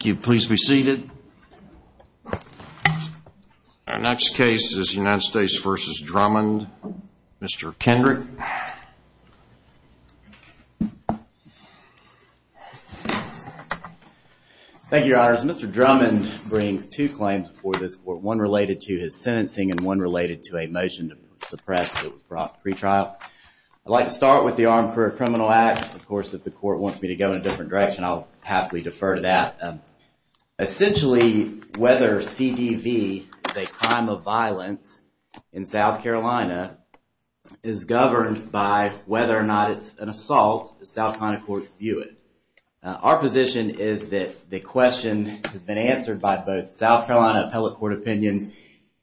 Please be seated. Our next case is United States v. Drummond. Mr. Kendrick. Thank you, your honors. Mr. Drummond brings two claims before this court, one related to his sentencing and one related to a motion to suppress that was brought to pretrial. I'd like to start with the Armed Career Criminal Act. Of course, if the court wants me to go in a different direction, I'll happily defer to that. Essentially, whether CDV is a crime of violence in South Carolina is governed by whether or not it's an assault, the South Carolina courts view it. Our position is that the question has been answered by both South Carolina appellate court opinions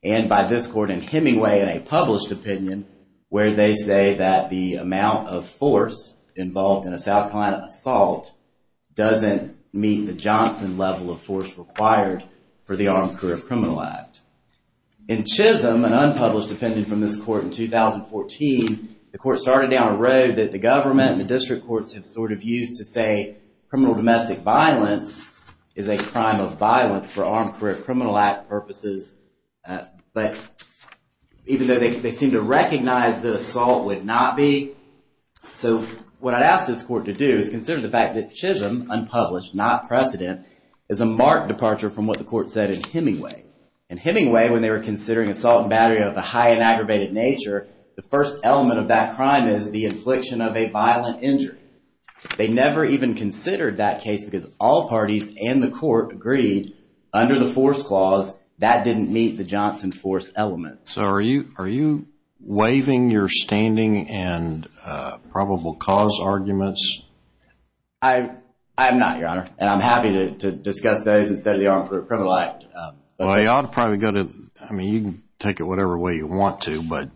and by this court in Hemingway in a published opinion, where they say that the amount of force involved in a South Carolina assault doesn't meet the Johnson level of force required for the Armed Career Criminal Act. In Chisholm, an unpublished opinion from this court in 2014, the court started down a road that the government and the district courts have sort of used to say criminal domestic violence is a crime of violence for Armed Career Criminal Act purposes. But even though they seem to recognize that assault would not be, so what I'd ask this court to do is consider the fact that Chisholm, unpublished, not precedent, is a marked departure from what the court said in Hemingway. In Hemingway, when they were considering assault and battery of a high and aggravated nature, the first element of that crime is the infliction of a violent injury. They never even considered that case because all parties and the court agreed under the force clause that didn't meet the Johnson force element. So are you waving your standing and probable cause arguments? I'm not, Your Honor, and I'm happy to discuss those instead of the Armed Career Criminal Act. Well, you ought to probably go to, I mean, you can take it whatever way you want to, but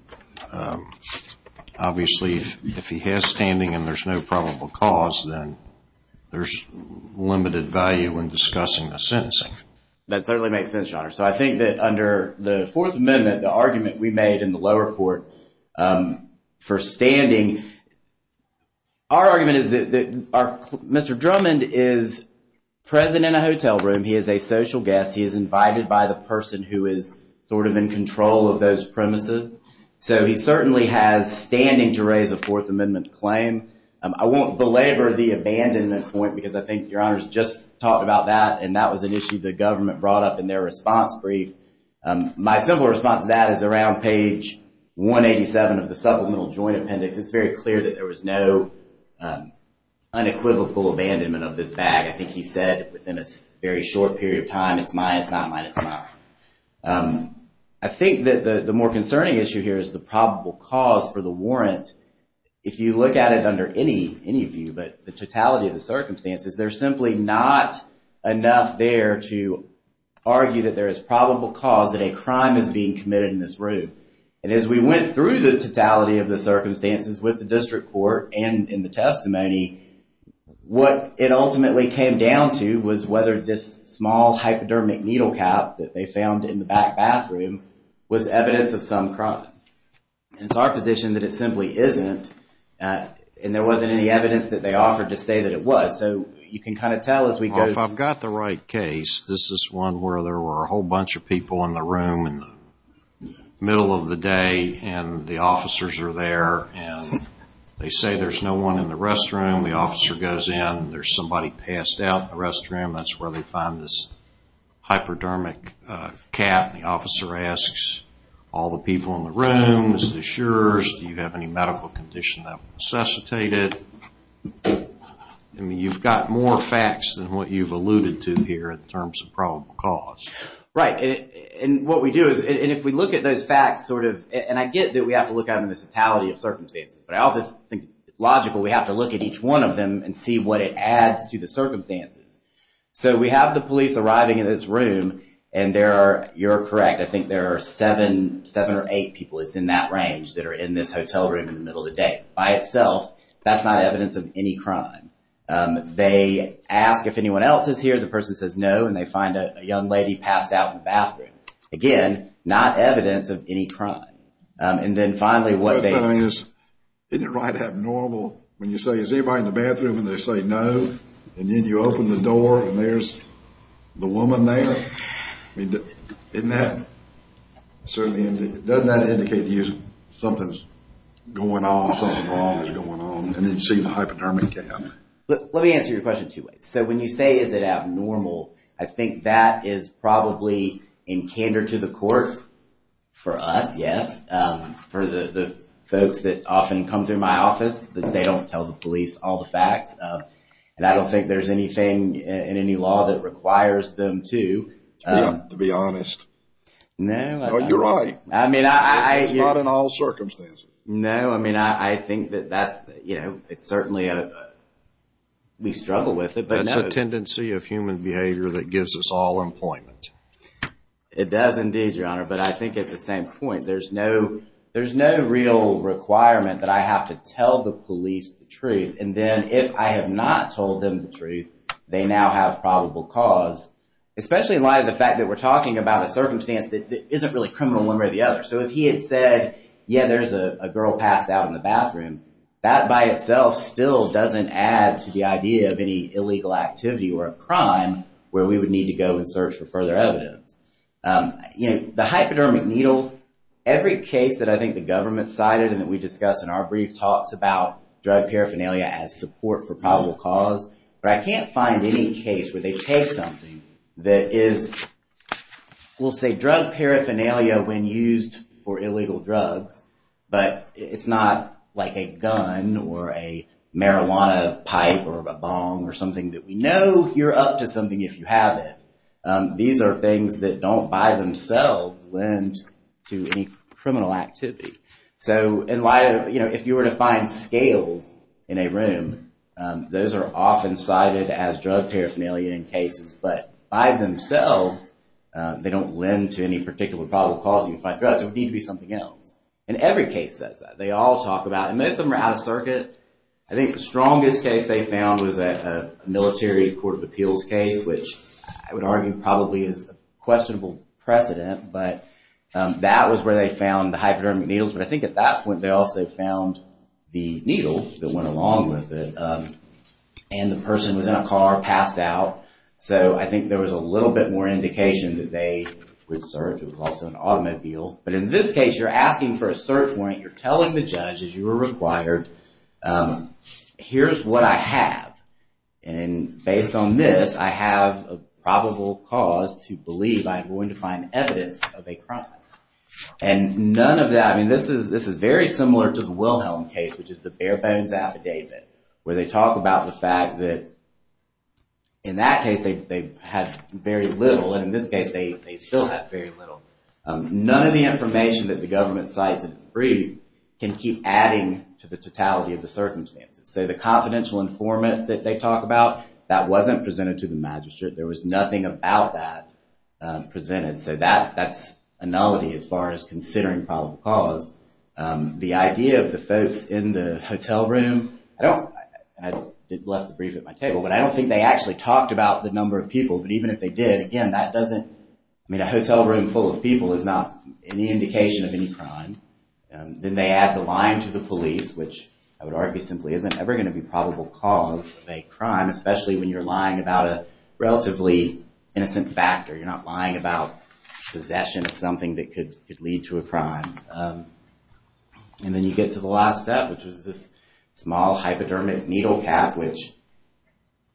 obviously if he has standing and there's no probable cause, then there's limited value in discussing the sentencing. That certainly makes sense, Your Honor. So I think that under the Fourth Amendment, the argument we made in the lower court for standing, our argument is that Mr. Drummond is present in a hotel room. He is a social guest. He is invited by the person who is sort of in control of those premises. So he certainly has standing to raise a Fourth Amendment claim. I won't belabor the abandonment point because I think Your Honor's just talked about that, and that was an issue the government brought up in their response brief. My simple response to that is around page 187 of the supplemental joint appendix. It's very clear that there was no unequivocal abandonment of this bag. I think he said within a very short period of time, it's mine, it's not mine, it's mine. I think that the more concerning issue here is the probable cause for the warrant. If you look at it under any view, but the totality of the circumstances, there's simply not enough there to argue that there is probable cause that a crime is being committed in this room. And as we went through the totality of the circumstances with the district court and in the testimony, what it ultimately came down to was whether this small hypodermic needle cap that they found in the back bathroom was evidence of some crime. And it's our position that it simply isn't, and there wasn't any evidence that they offered to say that it was. So you can kind of tell as we go. If I've got the right case, this is one where there were a whole bunch of people in the room in the middle of the day, and the officers are there, and they say there's no one in the restroom. The officer goes in, and there's somebody passed out in the restroom. That's where they find this hypodermic cap. The officer asks all the people in the room, the insurers, do you have any medical condition that will necessitate it? I mean, you've got more facts than what you've alluded to here in terms of probable cause. Right, and what we do is, and if we look at those facts sort of, and I get that we have to look at the totality of circumstances, but I also think it's logical we have to look at each one of them and see what it adds to the circumstances. So we have the police arriving in this room, and there are, you're correct, I think there are seven or eight people that's in that range that are in this hotel room in the middle of the day. By itself, that's not evidence of any crime. They ask if anyone else is here. The person says no, and they find a young lady passed out in the bathroom. Again, not evidence of any crime. And then finally, what they say... Isn't it right to have normal, when you say is anybody in the bathroom, and they say no, and then you open the door, and there's the woman there? Isn't that, certainly, doesn't that indicate that something's going on, something wrong is going on, and then you see the hypodermic gap? Let me answer your question two ways. So when you say is it abnormal, I think that is probably in candor to the court for us, yes, for the folks that often come through my office, that they don't tell the police all the facts. And I don't think there's anything in any law that requires them to. Yeah, to be honest. No. No, you're right. I mean, I... It's not in all circumstances. No, I mean, I think that that's, you know, it's certainly a... We struggle with it, but... That's a tendency of human behavior that gives us all employment. It does indeed, Your Honor, but I think at the same point, there's no real requirement that I have to tell the police the truth. And then if I have not told them the truth, they now have probable cause, especially in light of the fact that we're talking about a circumstance that isn't really criminal one way or the other. So if he had said, yeah, there's a girl passed out in the bathroom, that by itself still doesn't add to the idea of any illegal activity or a crime where we would need to go and search for further evidence. You know, the hypodermic needle, every case that I think the government cited and that we discussed in our brief talks about drug paraphernalia as support for probable cause, but I can't find any case where they take something that is, we'll say drug paraphernalia when used for illegal drugs, but it's not like a gun or a marijuana pipe or a bong or something that we know you're up to something if you have it. These are things that don't by themselves lend to any criminal activity. So in light of, you know, if you were to find scales in a room, those are often cited as drug paraphernalia in cases, but by themselves they don't lend to any particular probable cause to fight drugs. It would need to be something else. In every case that they all talk about, and most of them are out of circuit. I think the strongest case they found was a military court of appeals case, which I would argue probably is questionable precedent, but that was where they found the hypodermic needles, but I think at that point they also found the needle that went along with it, and the person was in a car, passed out, so I think there was a little bit more indication that they would search. It was also an automobile, but in this case you're asking for a search warrant. You're telling the judge, as you were required, here's what I have, and based on this I have a probable cause to believe I'm going to find evidence of a crime, and none of that, I mean this is very similar to the Wilhelm case, which is the bare bones affidavit, where they talk about the fact that in that case they had very little, and in this case they still have very little. None of the information that the government cites in its brief can keep adding to the totality of the circumstances, so the confidential informant that they talk about, that wasn't presented to the magistrate. There was nothing about that presented, so that's a nullity as far as considering probable cause. The idea of the folks in the hotel room, I left the brief at my table, but I don't think they actually talked about the number of people, but even if they did, again that doesn't, I mean a hotel room full of people is not an indication of any crime. Then they add the line to the police, which I would argue simply isn't ever going to be probable cause of a crime, especially when you're lying about a relatively innocent factor. You're not lying about possession of something that could lead to a crime. And then you get to the last step, which was this small hypodermic needle cap, which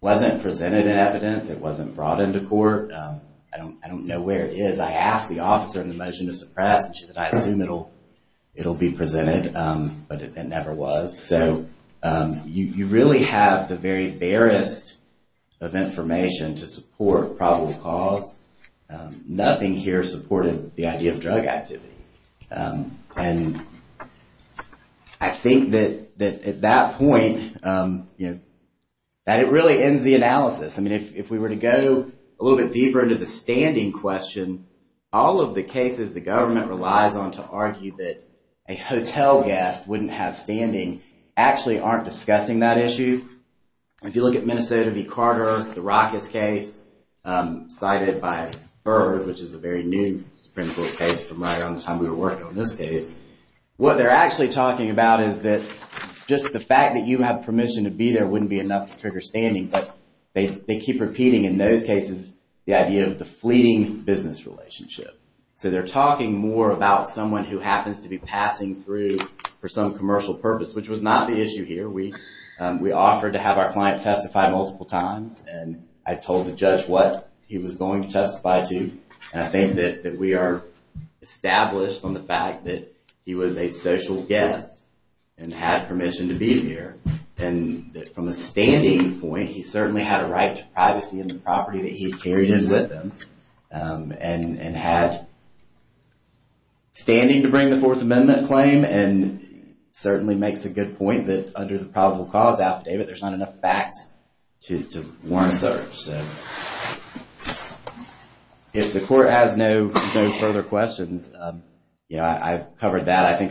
wasn't presented in evidence, it wasn't brought into court. I don't know where it is. I asked the officer in the motion to suppress, and she said, I assume it'll be presented, but it never was. So you really have the very barest of information to support probable cause. Nothing here supported the idea of drug activity. And I think that at that point, that it really ends the analysis. I mean if we were to go a little bit deeper into the standing question, all of the cases the government relies on to argue that a hotel guest wouldn't have standing, actually aren't discussing that issue. If you look at Minnesota v. Carter, the Rackus case, cited by Byrd, which is a very new Supreme Court case from right around the time we were working on this case, what they're actually talking about is that just the fact that you have permission to be there wouldn't be enough to trigger standing, but they keep repeating in those cases the idea of the fleeting business relationship. So they're talking more about someone who happens to be passing through for some commercial purpose, which was not the issue here. We offered to have our client testify multiple times, and I told the judge what he was going to testify to, and I think that we are established on the fact that he was a social guest and had permission to be here. And from a standing point, he certainly had a right to privacy in the property that he carried in with him, and had standing to bring the Fourth Amendment claim, and certainly makes a good point that under the probable cause affidavit, there's not enough facts to warrant a search. If the court has no further questions, I've covered that. I think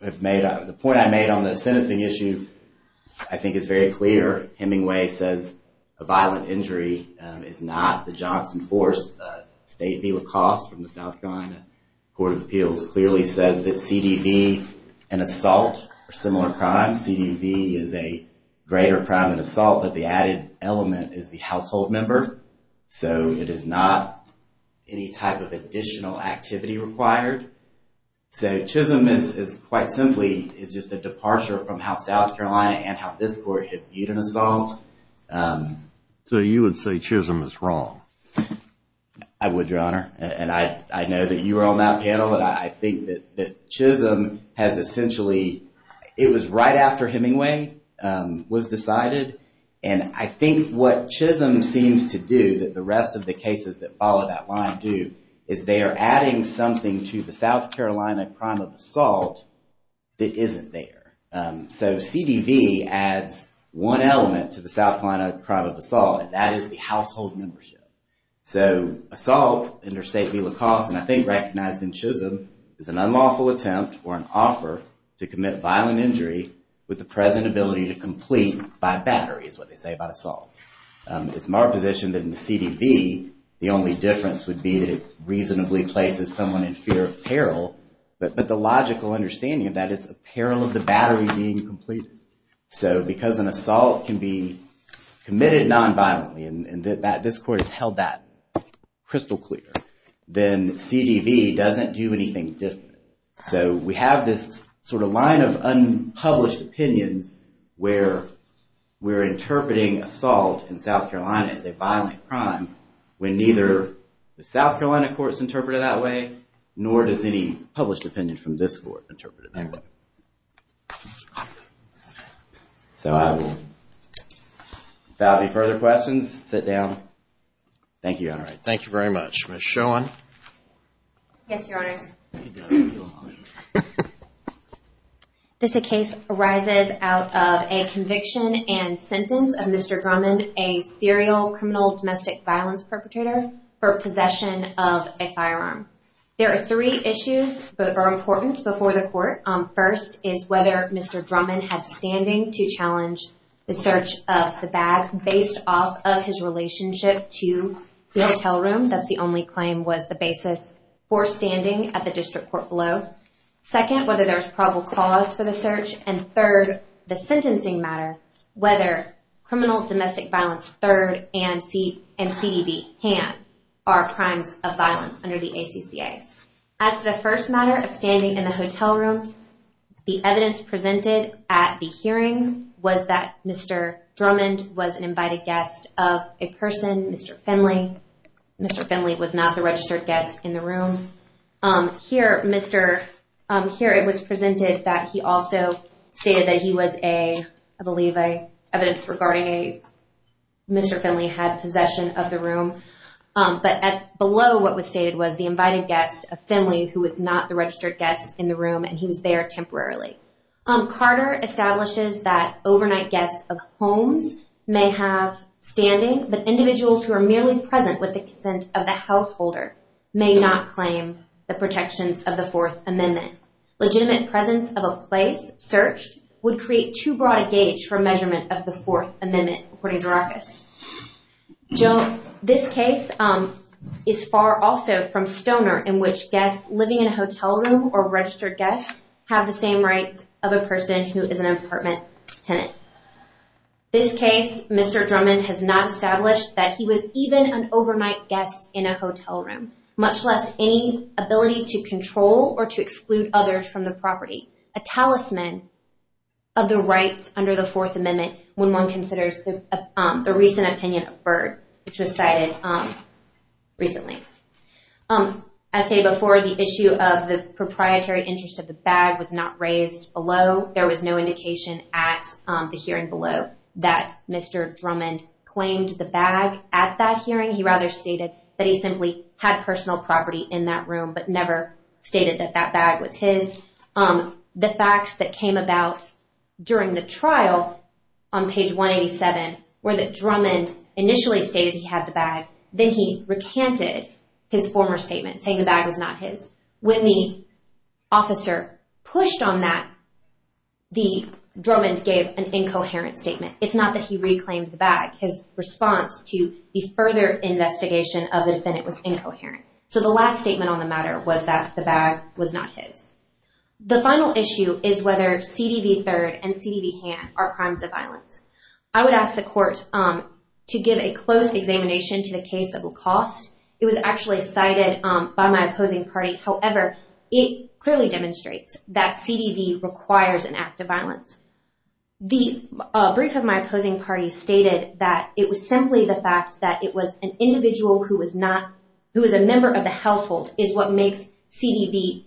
the point I made on the sentencing issue I think is very clear. Hemingway says a violent injury is not the Johnson Force. State v. LaCoste from the South Carolina Court of Appeals clearly says that CDV and assault are similar crimes. CDV is a greater crime than assault, but the added element is the household member. So it is not any type of additional activity required. So Chisholm is quite simply just a departure from how South Carolina and how this court had viewed an assault. So you would say Chisholm is wrong? I would, Your Honor. And I know that you were on that panel, but I think that Chisholm has essentially, it was right after Hemingway was decided, and I think what Chisholm seems to do that the rest of the cases that follow that line do, is they are adding something to the South Carolina crime of assault that isn't there. So CDV adds one element to the South Carolina crime of assault, and that is the household membership. So assault under State v. LaCoste, and I think recognized in Chisholm, is an unlawful attempt or an offer to commit violent injury with the present ability to complete by battery, is what they say about assault. It's my position that in the CDV, the only difference would be that it reasonably places someone in fear of peril, but the logical understanding of that is the peril of the battery being completed. So because an assault can be committed non-violently, and this Court has held that crystal clear, then CDV doesn't do anything different. So we have this sort of line of unpublished opinions where we're interpreting assault in South Carolina as a violent crime, when neither the South Carolina courts interpret it that way, nor does any published opinion from this Court interpret it that way. So without any further questions, sit down. Thank you, Your Honor. Thank you very much. Ms. Schoen? Yes, Your Honors. This case arises out of a conviction and sentence of Mr. Drummond, a serial criminal domestic violence perpetrator, for possession of a firearm. There are three issues that are important before the Court. First is whether Mr. Drummond had standing to challenge the search of the bag based off of his relationship to the hotel room. That's the only claim was the basis for standing at the District Court below. Second, whether there's probable cause for the search. And third, the sentencing matter, whether criminal domestic violence third and CDV hand are crimes of violence under the ACCA. As to the first matter of standing in the hotel room, the evidence presented at the hearing was that Mr. Drummond was an invited guest of a person, Mr. Finley. Mr. Finley was not the registered guest in the room. Here, it was presented that he also stated that he was a, I believe, evidence regarding Mr. Finley had possession of the room. But below what was stated was the invited guest of Finley who was not the registered guest in the room and he was there temporarily. Carter establishes that overnight guests of homes may have standing, but individuals who are merely present with the consent of the householder may not claim the protections of the Fourth Amendment. Legitimate presence of a place searched would create too broad a gauge for measurement of the Fourth Amendment, according to Rackus. This case is far also from Stoner in which guests living in a hotel room or registered guests have the same rights of a person who is an apartment tenant. This case, Mr. Drummond has not established that he was even an overnight guest in a hotel room, much less any ability to control or to exclude others from the property. A talisman of the rights under the Fourth Amendment when one considers the recent opinion of Byrd, which was cited recently. As stated before, the issue of the proprietary interest of the bag was not raised below. There was no indication at the hearing below that Mr. Drummond claimed the bag at that hearing. He rather stated that he simply had personal property in that room but never stated that that bag was his. The facts that came about during the trial on page 187 were that Drummond initially stated he had the bag, then he recanted his former statement saying the bag was not his. When the officer pushed on that, Drummond gave an incoherent statement. It's not that he reclaimed the bag. His response to the further investigation of the defendant was incoherent. So the last statement on the matter was that the bag was not his. The final issue is whether CDV III and CDV Han are crimes of violence. I would ask the court to give a close examination to the case of Lacoste. It was actually cited by my opposing party. However, it clearly demonstrates that CDV requires an act of violence. The brief of my opposing party stated that it was simply the fact that it was an individual who was a member of the household is what makes CDV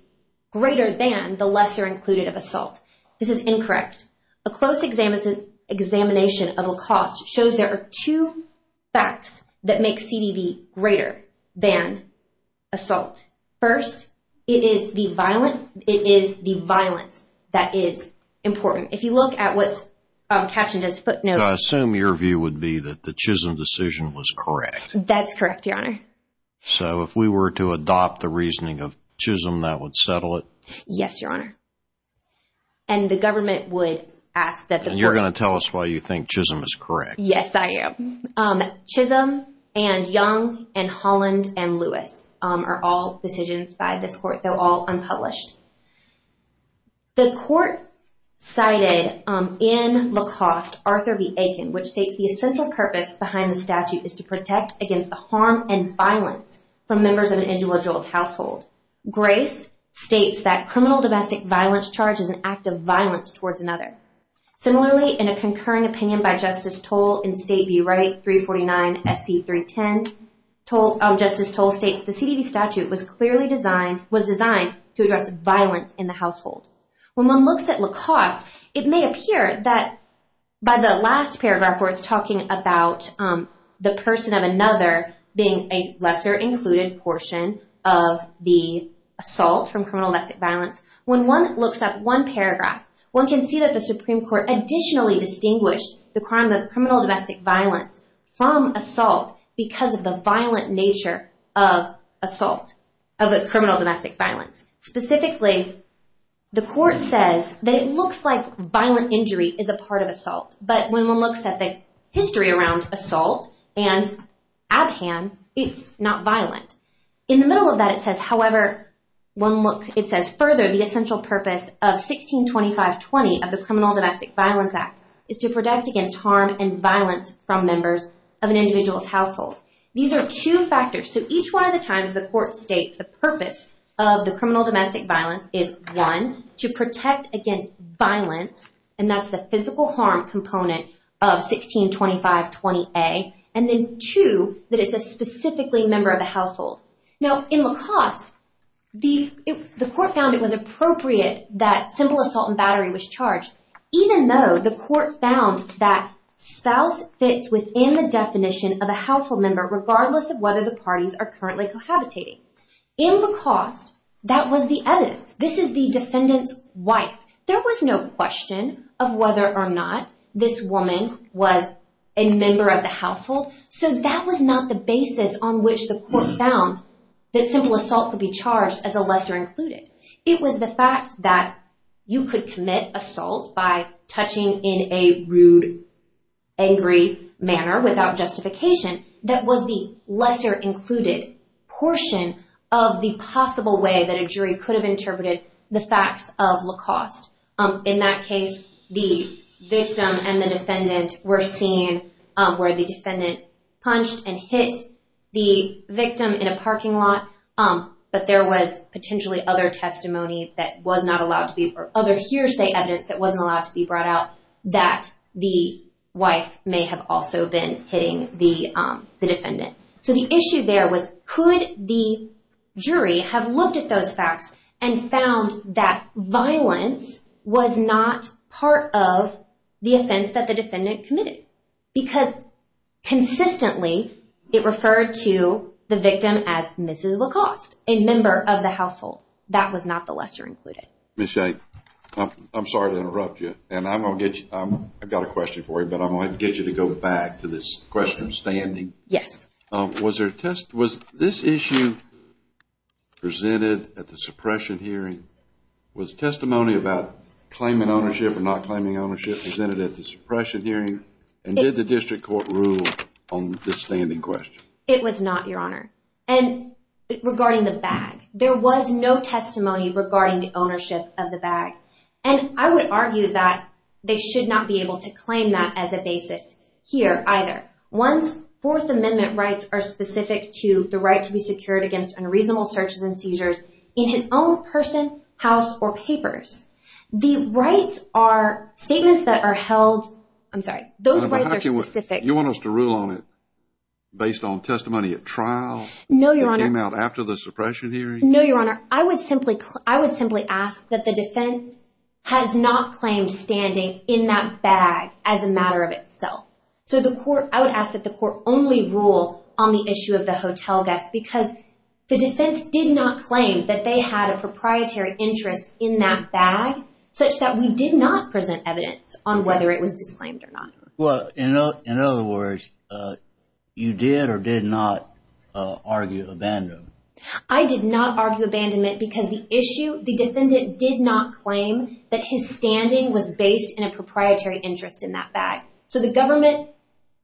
greater than the lesser included of assault. This is incorrect. A close examination of Lacoste shows there are two facts that make CDV greater than assault. First, it is the violence that is important. If you look at what's captioned as footnotes… I assume your view would be that the Chisholm decision was correct. That's correct, Your Honor. So if we were to adopt the reasoning of Chisholm, that would settle it? Yes, Your Honor. And the government would ask that the court… And you're going to tell us why you think Chisholm is correct. Yes, I am. Chisholm and Young and Holland and Lewis are all decisions by this court. They're all unpublished. The court cited in Lacoste Arthur B. Aiken, which states the essential purpose behind the statute is to protect against the harm and violence from members of an individual's household. Grace states that criminal domestic violence charge is an act of violence towards another. Similarly, in a concurring opinion by Justice Toll in State View, Right 349 SC 310, Justice Toll states, the CDB statute was designed to address violence in the household. When one looks at Lacoste, it may appear that by the last paragraph where it's talking about the person of another being a lesser included portion of the assault from criminal domestic violence, when one looks at one paragraph, one can see that the Supreme Court additionally distinguished the crime of criminal domestic violence from assault because of the violent nature of assault, of a criminal domestic violence. Specifically, the court says that it looks like violent injury is a part of assault. But when one looks at the history around assault and Abhan, it's not violent. In the middle of that, it says, however, one looks, it says, further, the essential purpose of 1625-20 of the Criminal Domestic Violence Act is to protect against harm and violence from members of an individual's household. These are two factors. So each one of the times the court states the purpose of the criminal domestic violence is, one, to protect against violence, and that's the physical harm component of 1625-20A, and then two, that it's a specifically member of the household. Now, in Lacoste, the court found it was appropriate that simple assault and battery was charged, even though the court found that spouse fits within the definition of a household member regardless of whether the parties are currently cohabitating. In Lacoste, that was the evidence. This is the defendant's wife. There was no question of whether or not this woman was a member of the household, so that was not the basis on which the court found that simple assault could be charged as a lesser included. It was the fact that you could commit assault by touching in a rude, angry manner without justification that was the lesser included portion of the possible way that a jury could have interpreted the facts of Lacoste. In that case, the victim and the defendant were seen, where the defendant punched and hit the victim in a parking lot, but there was potentially other testimony that was not allowed to be, or other hearsay evidence that wasn't allowed to be brought out that the wife may have also been hitting the defendant. So the issue there was could the jury have looked at those facts and found that violence was not part of the offense that the defendant committed, because consistently it referred to the victim as Mrs. Lacoste, a member of the household. That was not the lesser included. Ms. Shay, I'm sorry to interrupt you, and I've got a question for you, but I'm going to get you to go back to this question standing. Yes. Was this issue presented at the suppression hearing? Was testimony about claiming ownership or not claiming ownership presented at the suppression hearing? And did the district court rule on the standing question? It was not, Your Honor. And regarding the bag, there was no testimony regarding the ownership of the bag, and I would argue that they should not be able to claim that as a basis here either. Once Fourth Amendment rights are specific to the right to be secured against unreasonable searches and seizures in his own person, house, or papers, the rights are statements that are held. I'm sorry. Those rights are specific. You want us to rule on it based on testimony at trial? No, Your Honor. That came out after the suppression hearing? No, Your Honor. I would simply ask that the defense has not claimed standing in that bag as a matter of itself. So I would ask that the court only rule on the issue of the hotel guest because the defense did not claim that they had a proprietary interest in that bag such that we did not present evidence on whether it was disclaimed or not. Well, in other words, you did or did not argue abandonment? I did not argue abandonment because the issue, the defendant did not claim that his standing was based in a proprietary interest in that bag. So the government,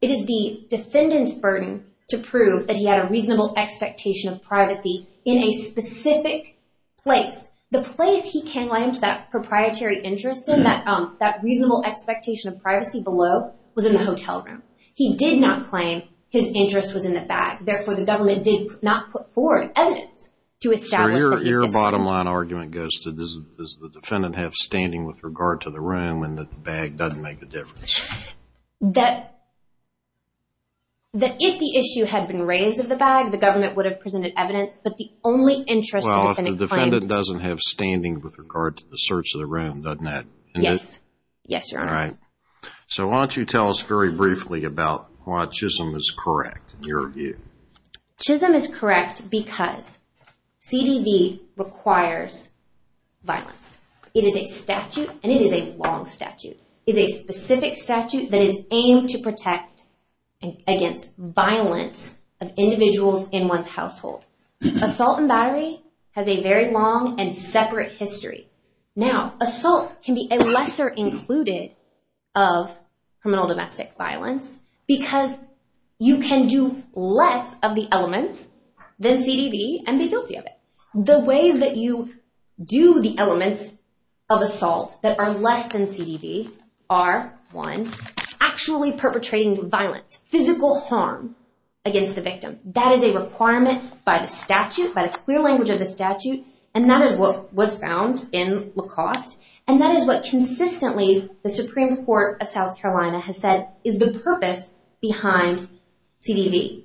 it is the defendant's burden to prove that he had a reasonable expectation of privacy in a specific place. The place he claimed that proprietary interest in, that reasonable expectation of privacy below, was in the hotel room. He did not claim his interest was in the bag. Therefore, the government did not put forward evidence to establish that it was disclaimed. So your bottom line argument goes to does the defendant have standing with regard to the room and that the bag doesn't make a difference? That if the issue had been raised of the bag, the government would have presented evidence, but the only interest the defendant claimed... Well, if the defendant doesn't have standing with regard to the search of the room, doesn't that... Yes. Yes, Your Honor. So why don't you tell us very briefly about why Chisholm is correct in your view? Chisholm is correct because CDV requires violence. It is a statute, and it is a long statute. It is a specific statute that is aimed to protect against violence of individuals in one's household. Assault and battery has a very long and separate history. Now, assault can be a lesser included of criminal domestic violence because you can do less of the elements than CDV and be guilty of it. The ways that you do the elements of assault that are less than CDV are, one, actually perpetrating violence, physical harm against the victim. That is a requirement by the statute, by the clear language of the statute, and that is what was found in Lacoste, and that is what consistently the Supreme Court of South Carolina has said is the purpose behind CDV.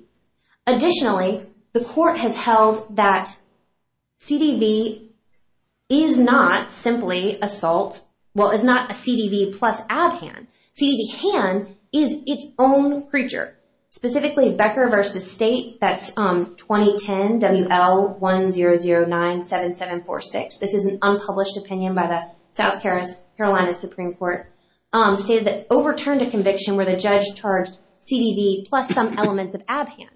Additionally, the court has held that CDV is not simply assault. Well, it's not a CDV plus ab-han. CDV-han is its own creature. Specifically, Becker v. State, that's 2010 WL10097746, this is an unpublished opinion by the South Carolina Supreme Court, stated that overturned a conviction where the judge charged CDV plus some elements of ab-han.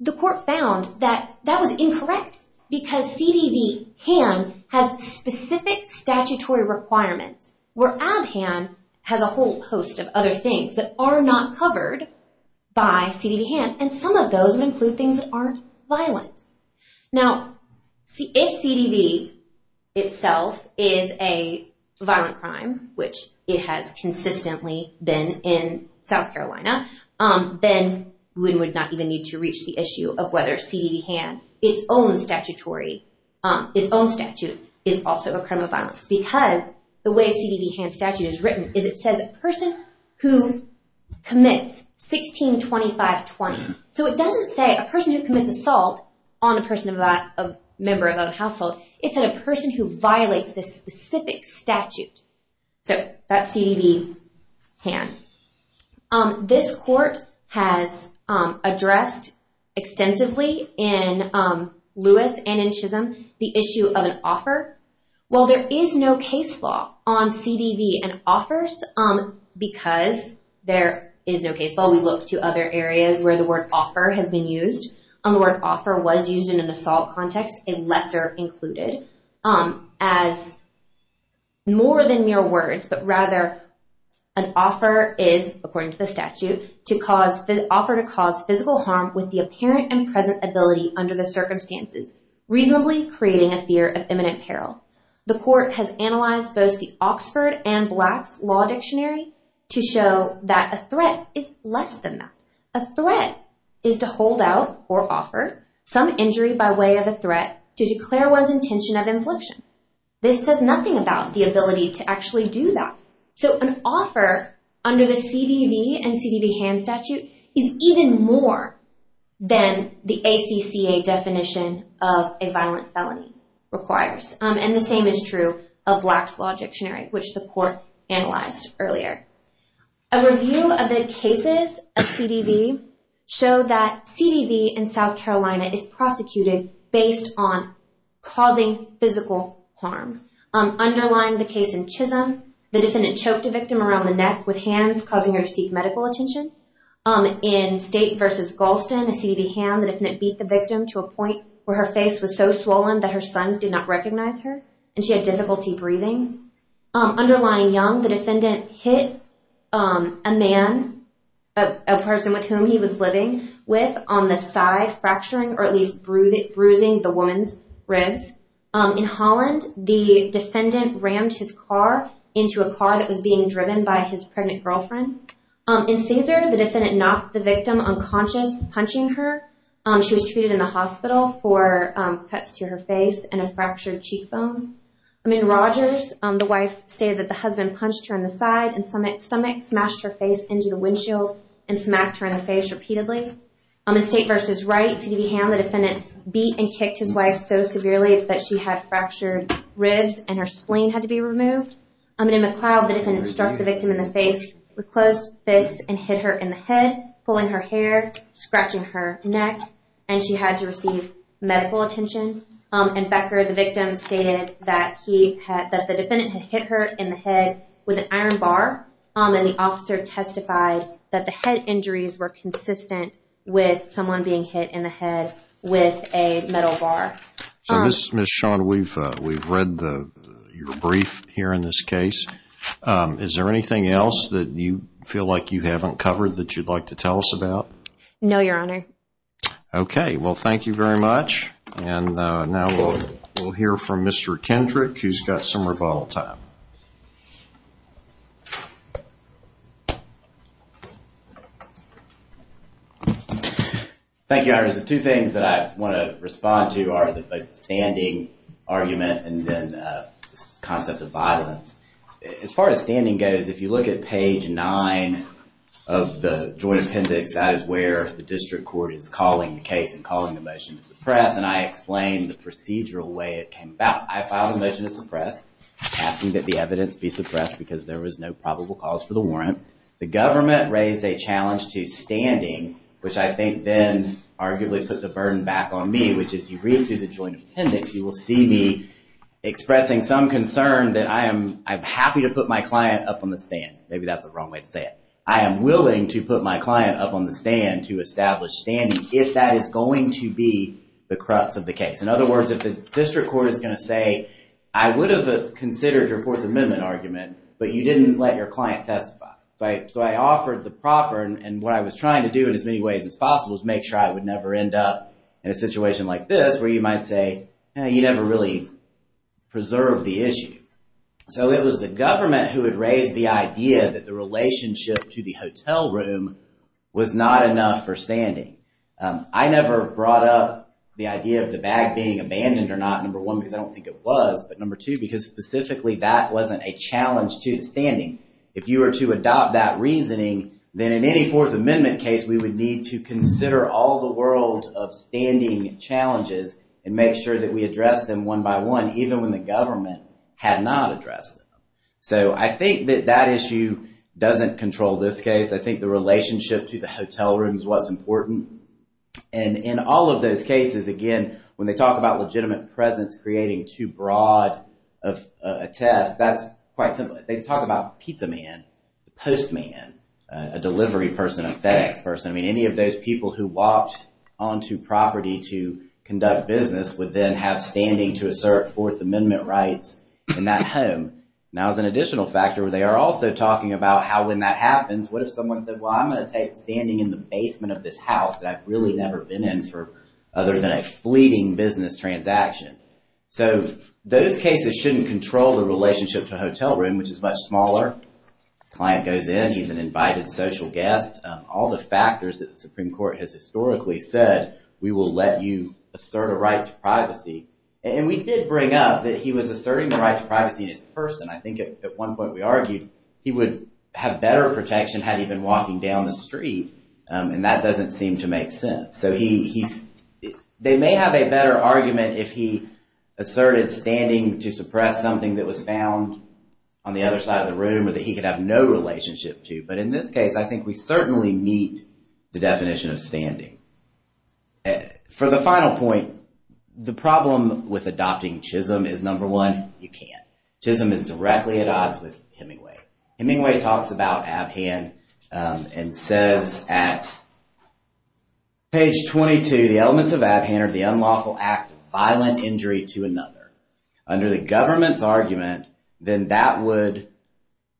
The court found that that was incorrect because CDV-han has specific statutory requirements where ab-han has a whole host of other things that are not covered by CDV-han, and some of those would include things that aren't violent. Now, if CDV itself is a violent crime, which it has consistently been in South Carolina, then one would not even need to reach the issue of whether CDV-han, its own statutory, its own statute is also a crime of violence, because the way CDV-han statute is written is it says a person who commits 162520. So, it doesn't say a person who commits assault on a member of a household. It's a person who violates this specific statute. So, that's CDV-han. This court has addressed extensively in Lewis and in Chisholm the issue of an offer. Well, there is no case law on CDV and offers because there is no case law. While we look to other areas where the word offer has been used, the word offer was used in an assault context, a lesser included, as more than mere words, but rather an offer is, according to the statute, an offer to cause physical harm with the apparent and present ability under the circumstances, reasonably creating a fear of imminent peril. The court has analyzed both the Oxford and Black's Law Dictionary to show that a threat is less than that. A threat is to hold out or offer some injury by way of a threat to declare one's intention of infliction. This says nothing about the ability to actually do that. So, an offer under the CDV and CDV-han statute is even more than the ACCA definition of a violent felony requires. And the same is true of Black's Law Dictionary, which the court analyzed earlier. A review of the cases of CDV show that CDV in South Carolina is prosecuted based on causing physical harm. Underlying the case in Chisholm, the defendant choked a victim around the neck with hands, causing her to seek medical attention. In State v. Galston, a CDV hand, the defendant beat the victim to a point where her face was so swollen that her son did not recognize her, and she had difficulty breathing. Underlying Young, the defendant hit a man, a person with whom he was living with, on the side, fracturing or at least bruising the woman's ribs. In Holland, the defendant rammed his car into a car that was being driven by his pregnant girlfriend. In Caesar, the defendant knocked the victim unconscious, punching her. She was treated in the hospital for cuts to her face and a fractured cheekbone. In Rogers, the wife stated that the husband punched her in the side and stomach, smashed her face into the windshield, and smacked her in the face repeatedly. In State v. Wright, CDV hand, the defendant beat and kicked his wife so severely that she had fractured ribs and her spleen had to be removed. In McLeod, the defendant struck the victim in the face with closed fists and hit her in the head, pulling her hair, scratching her neck, and she had to receive medical attention. In Becker, the victim stated that the defendant had hit her in the head with an iron bar, and the officer testified that the head injuries were consistent with someone being hit in the head with a metal bar. So, Ms. Sean, we've read your brief here in this case. Is there anything else that you feel like you haven't covered that you'd like to tell us about? No, Your Honor. Okay. Well, thank you very much, and now we'll hear from Mr. Kendrick, who's got some rebuttal time. Thank you, Your Honor. There's two things that I want to respond to are the standing argument and then the concept of violence. As far as standing goes, if you look at page nine of the joint appendix, that is where the district court is calling the case and calling the motion to suppress, and I explained the procedural way it came about. I filed a motion to suppress, asking that the evidence be suppressed because there was no probable cause for the warrant. The government raised a challenge to standing, which I think then arguably put the burden back on me, which is you read through the joint appendix, you will see me expressing some concern that I'm happy to put my client up on the stand. Maybe that's the wrong way to say it. I am willing to put my client up on the stand to establish standing if that is going to be the crux of the case. In other words, if the district court is going to say, I would have considered your Fourth Amendment argument, but you didn't let your client testify. So I offered the proffer, and what I was trying to do in as many ways as possible was make sure I would never end up in a situation like this where you might say, you never really preserved the issue. So it was the government who had raised the idea that the relationship to the hotel room was not enough for standing. I never brought up the idea of the bag being abandoned or not, number one, because I don't think it was, but number two, because specifically that wasn't a challenge to the standing. If you were to adopt that reasoning, then in any Fourth Amendment case, we would need to consider all the world of standing challenges and make sure that we address them one by one, even when the government had not addressed them. So I think that that issue doesn't control this case. I think the relationship to the hotel rooms was important. And in all of those cases, again, when they talk about legitimate presence creating too broad of a test, that's quite simply, they talk about pizza man, postman, a delivery person, a FedEx person. I mean, any of those people who walked onto property to conduct business would then have standing to assert Fourth Amendment rights in that home. Now as an additional factor, they are also talking about how when that happens, what if someone said, well, I'm going to take standing in the basement of this house that I've really never been in for other than a fleeting business transaction. So those cases shouldn't control the relationship to a hotel room, which is much smaller. Client goes in, he's an invited social guest. All the factors that the Supreme Court has historically said, we will let you assert a right to privacy. And we did bring up that he was asserting the right to privacy in his person. I think at one point we argued he would have better protection had he been walking down the street. And that doesn't seem to make sense. So he's, they may have a better argument if he asserted standing to suppress something that was found on the other side of the room or that he could have no relationship to. But in this case, I think we certainly meet the definition of standing. For the final point, the problem with adopting CHISM is number one, you can't. CHISM is directly at odds with Hemingway. Hemingway talks about Abhan and says at page 22, the elements of Abhan are the unlawful act of violent injury to another. Under the government's argument, then that would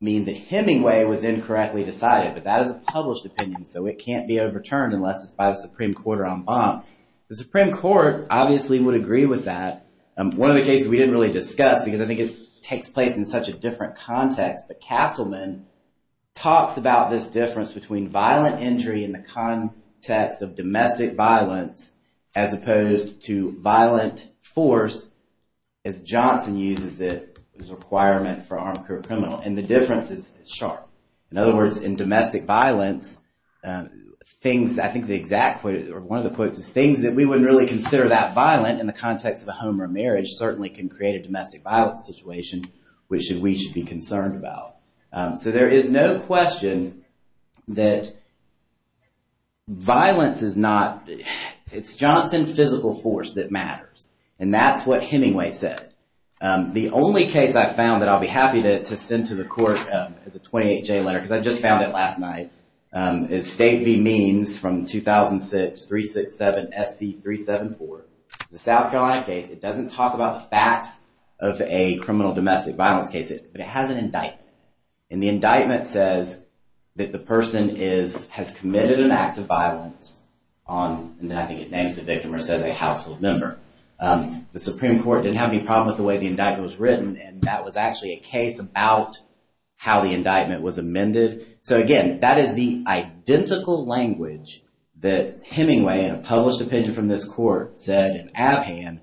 mean that Hemingway was incorrectly decided. But that is a published opinion, so it can't be overturned unless it's by the Supreme Court or en banc. The Supreme Court obviously would agree with that. One of the cases we didn't really discuss because I think it takes place in such a different context, but Castleman talks about this difference between violent injury in the context of domestic violence as opposed to violent force as Johnson uses it as a requirement for armed criminal. And the difference is sharp. In other words, in domestic violence, things, I think the exact quote, or one of the quotes is things that we wouldn't really consider that violent in the context of a home or marriage certainly can create a domestic violence situation which we should be concerned about. So there is no question that violence is not, it's Johnson's physical force that matters. And that's what Hemingway said. The only case I found that I'll be happy to send to the court as a 28-J letter, because I just found it last night, is State v. Means from 2006-367 SC-374. It's a South Carolina case. It doesn't talk about the facts of a criminal domestic violence case, but it has an indictment. And the indictment says that the person has committed an act of violence on, and I think it names the victim or says a household member. The Supreme Court didn't have any problem with the way the indictment was written, and that was actually a case about how the indictment was amended. So, again, that is the identical language that Hemingway in a published opinion from this court said in Abhan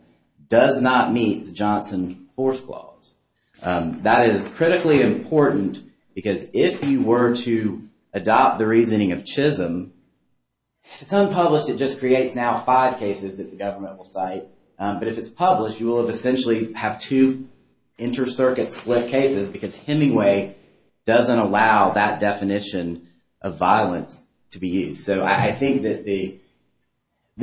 does not meet the Johnson force clause. That is critically important because if you were to adopt the reasoning of Chisholm, if it's unpublished, it just creates now five cases that the government will cite. But if it's published, you will essentially have two inter-circuit split cases because Hemingway doesn't allow that definition of violence to be used. So I think that the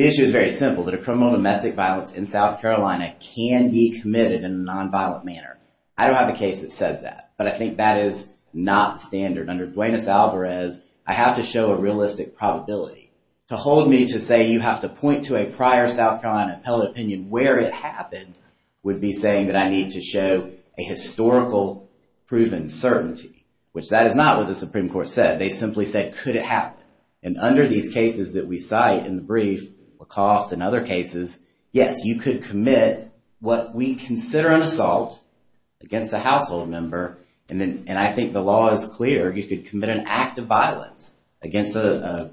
issue is very simple, that a criminal domestic violence in South Carolina can be committed in a nonviolent manner. I don't have a case that says that, but I think that is not standard. Under Duenas-Alvarez, I have to show a realistic probability. To hold me to say you have to point to a prior South Carolina appellate opinion where it happened would be saying that I need to show a historical proven certainty, which that is not what the Supreme Court said. They simply said, could it happen? And under these cases that we cite in the brief, LaCoste and other cases, yes, you could commit what we consider an assault against a household member, and I think the law is clear. You could commit an act of violence against a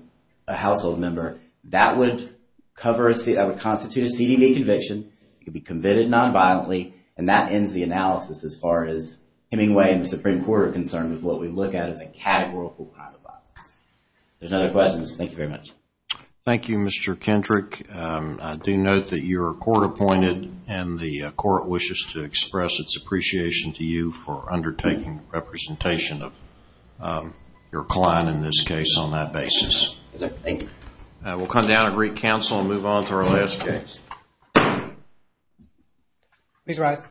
household member. That would constitute a CDD conviction. It could be committed nonviolently, and that ends the analysis as far as Hemingway and the Supreme Court are concerned with what we look at as a categorical act of violence. If there's no other questions, thank you very much. Thank you, Mr. Kendrick. I do note that you're court-appointed, and the court wishes to express its appreciation to you for undertaking representation of your client in this case on that basis. Thank you. We'll come down and recounsel and move on to our last case. Please rise.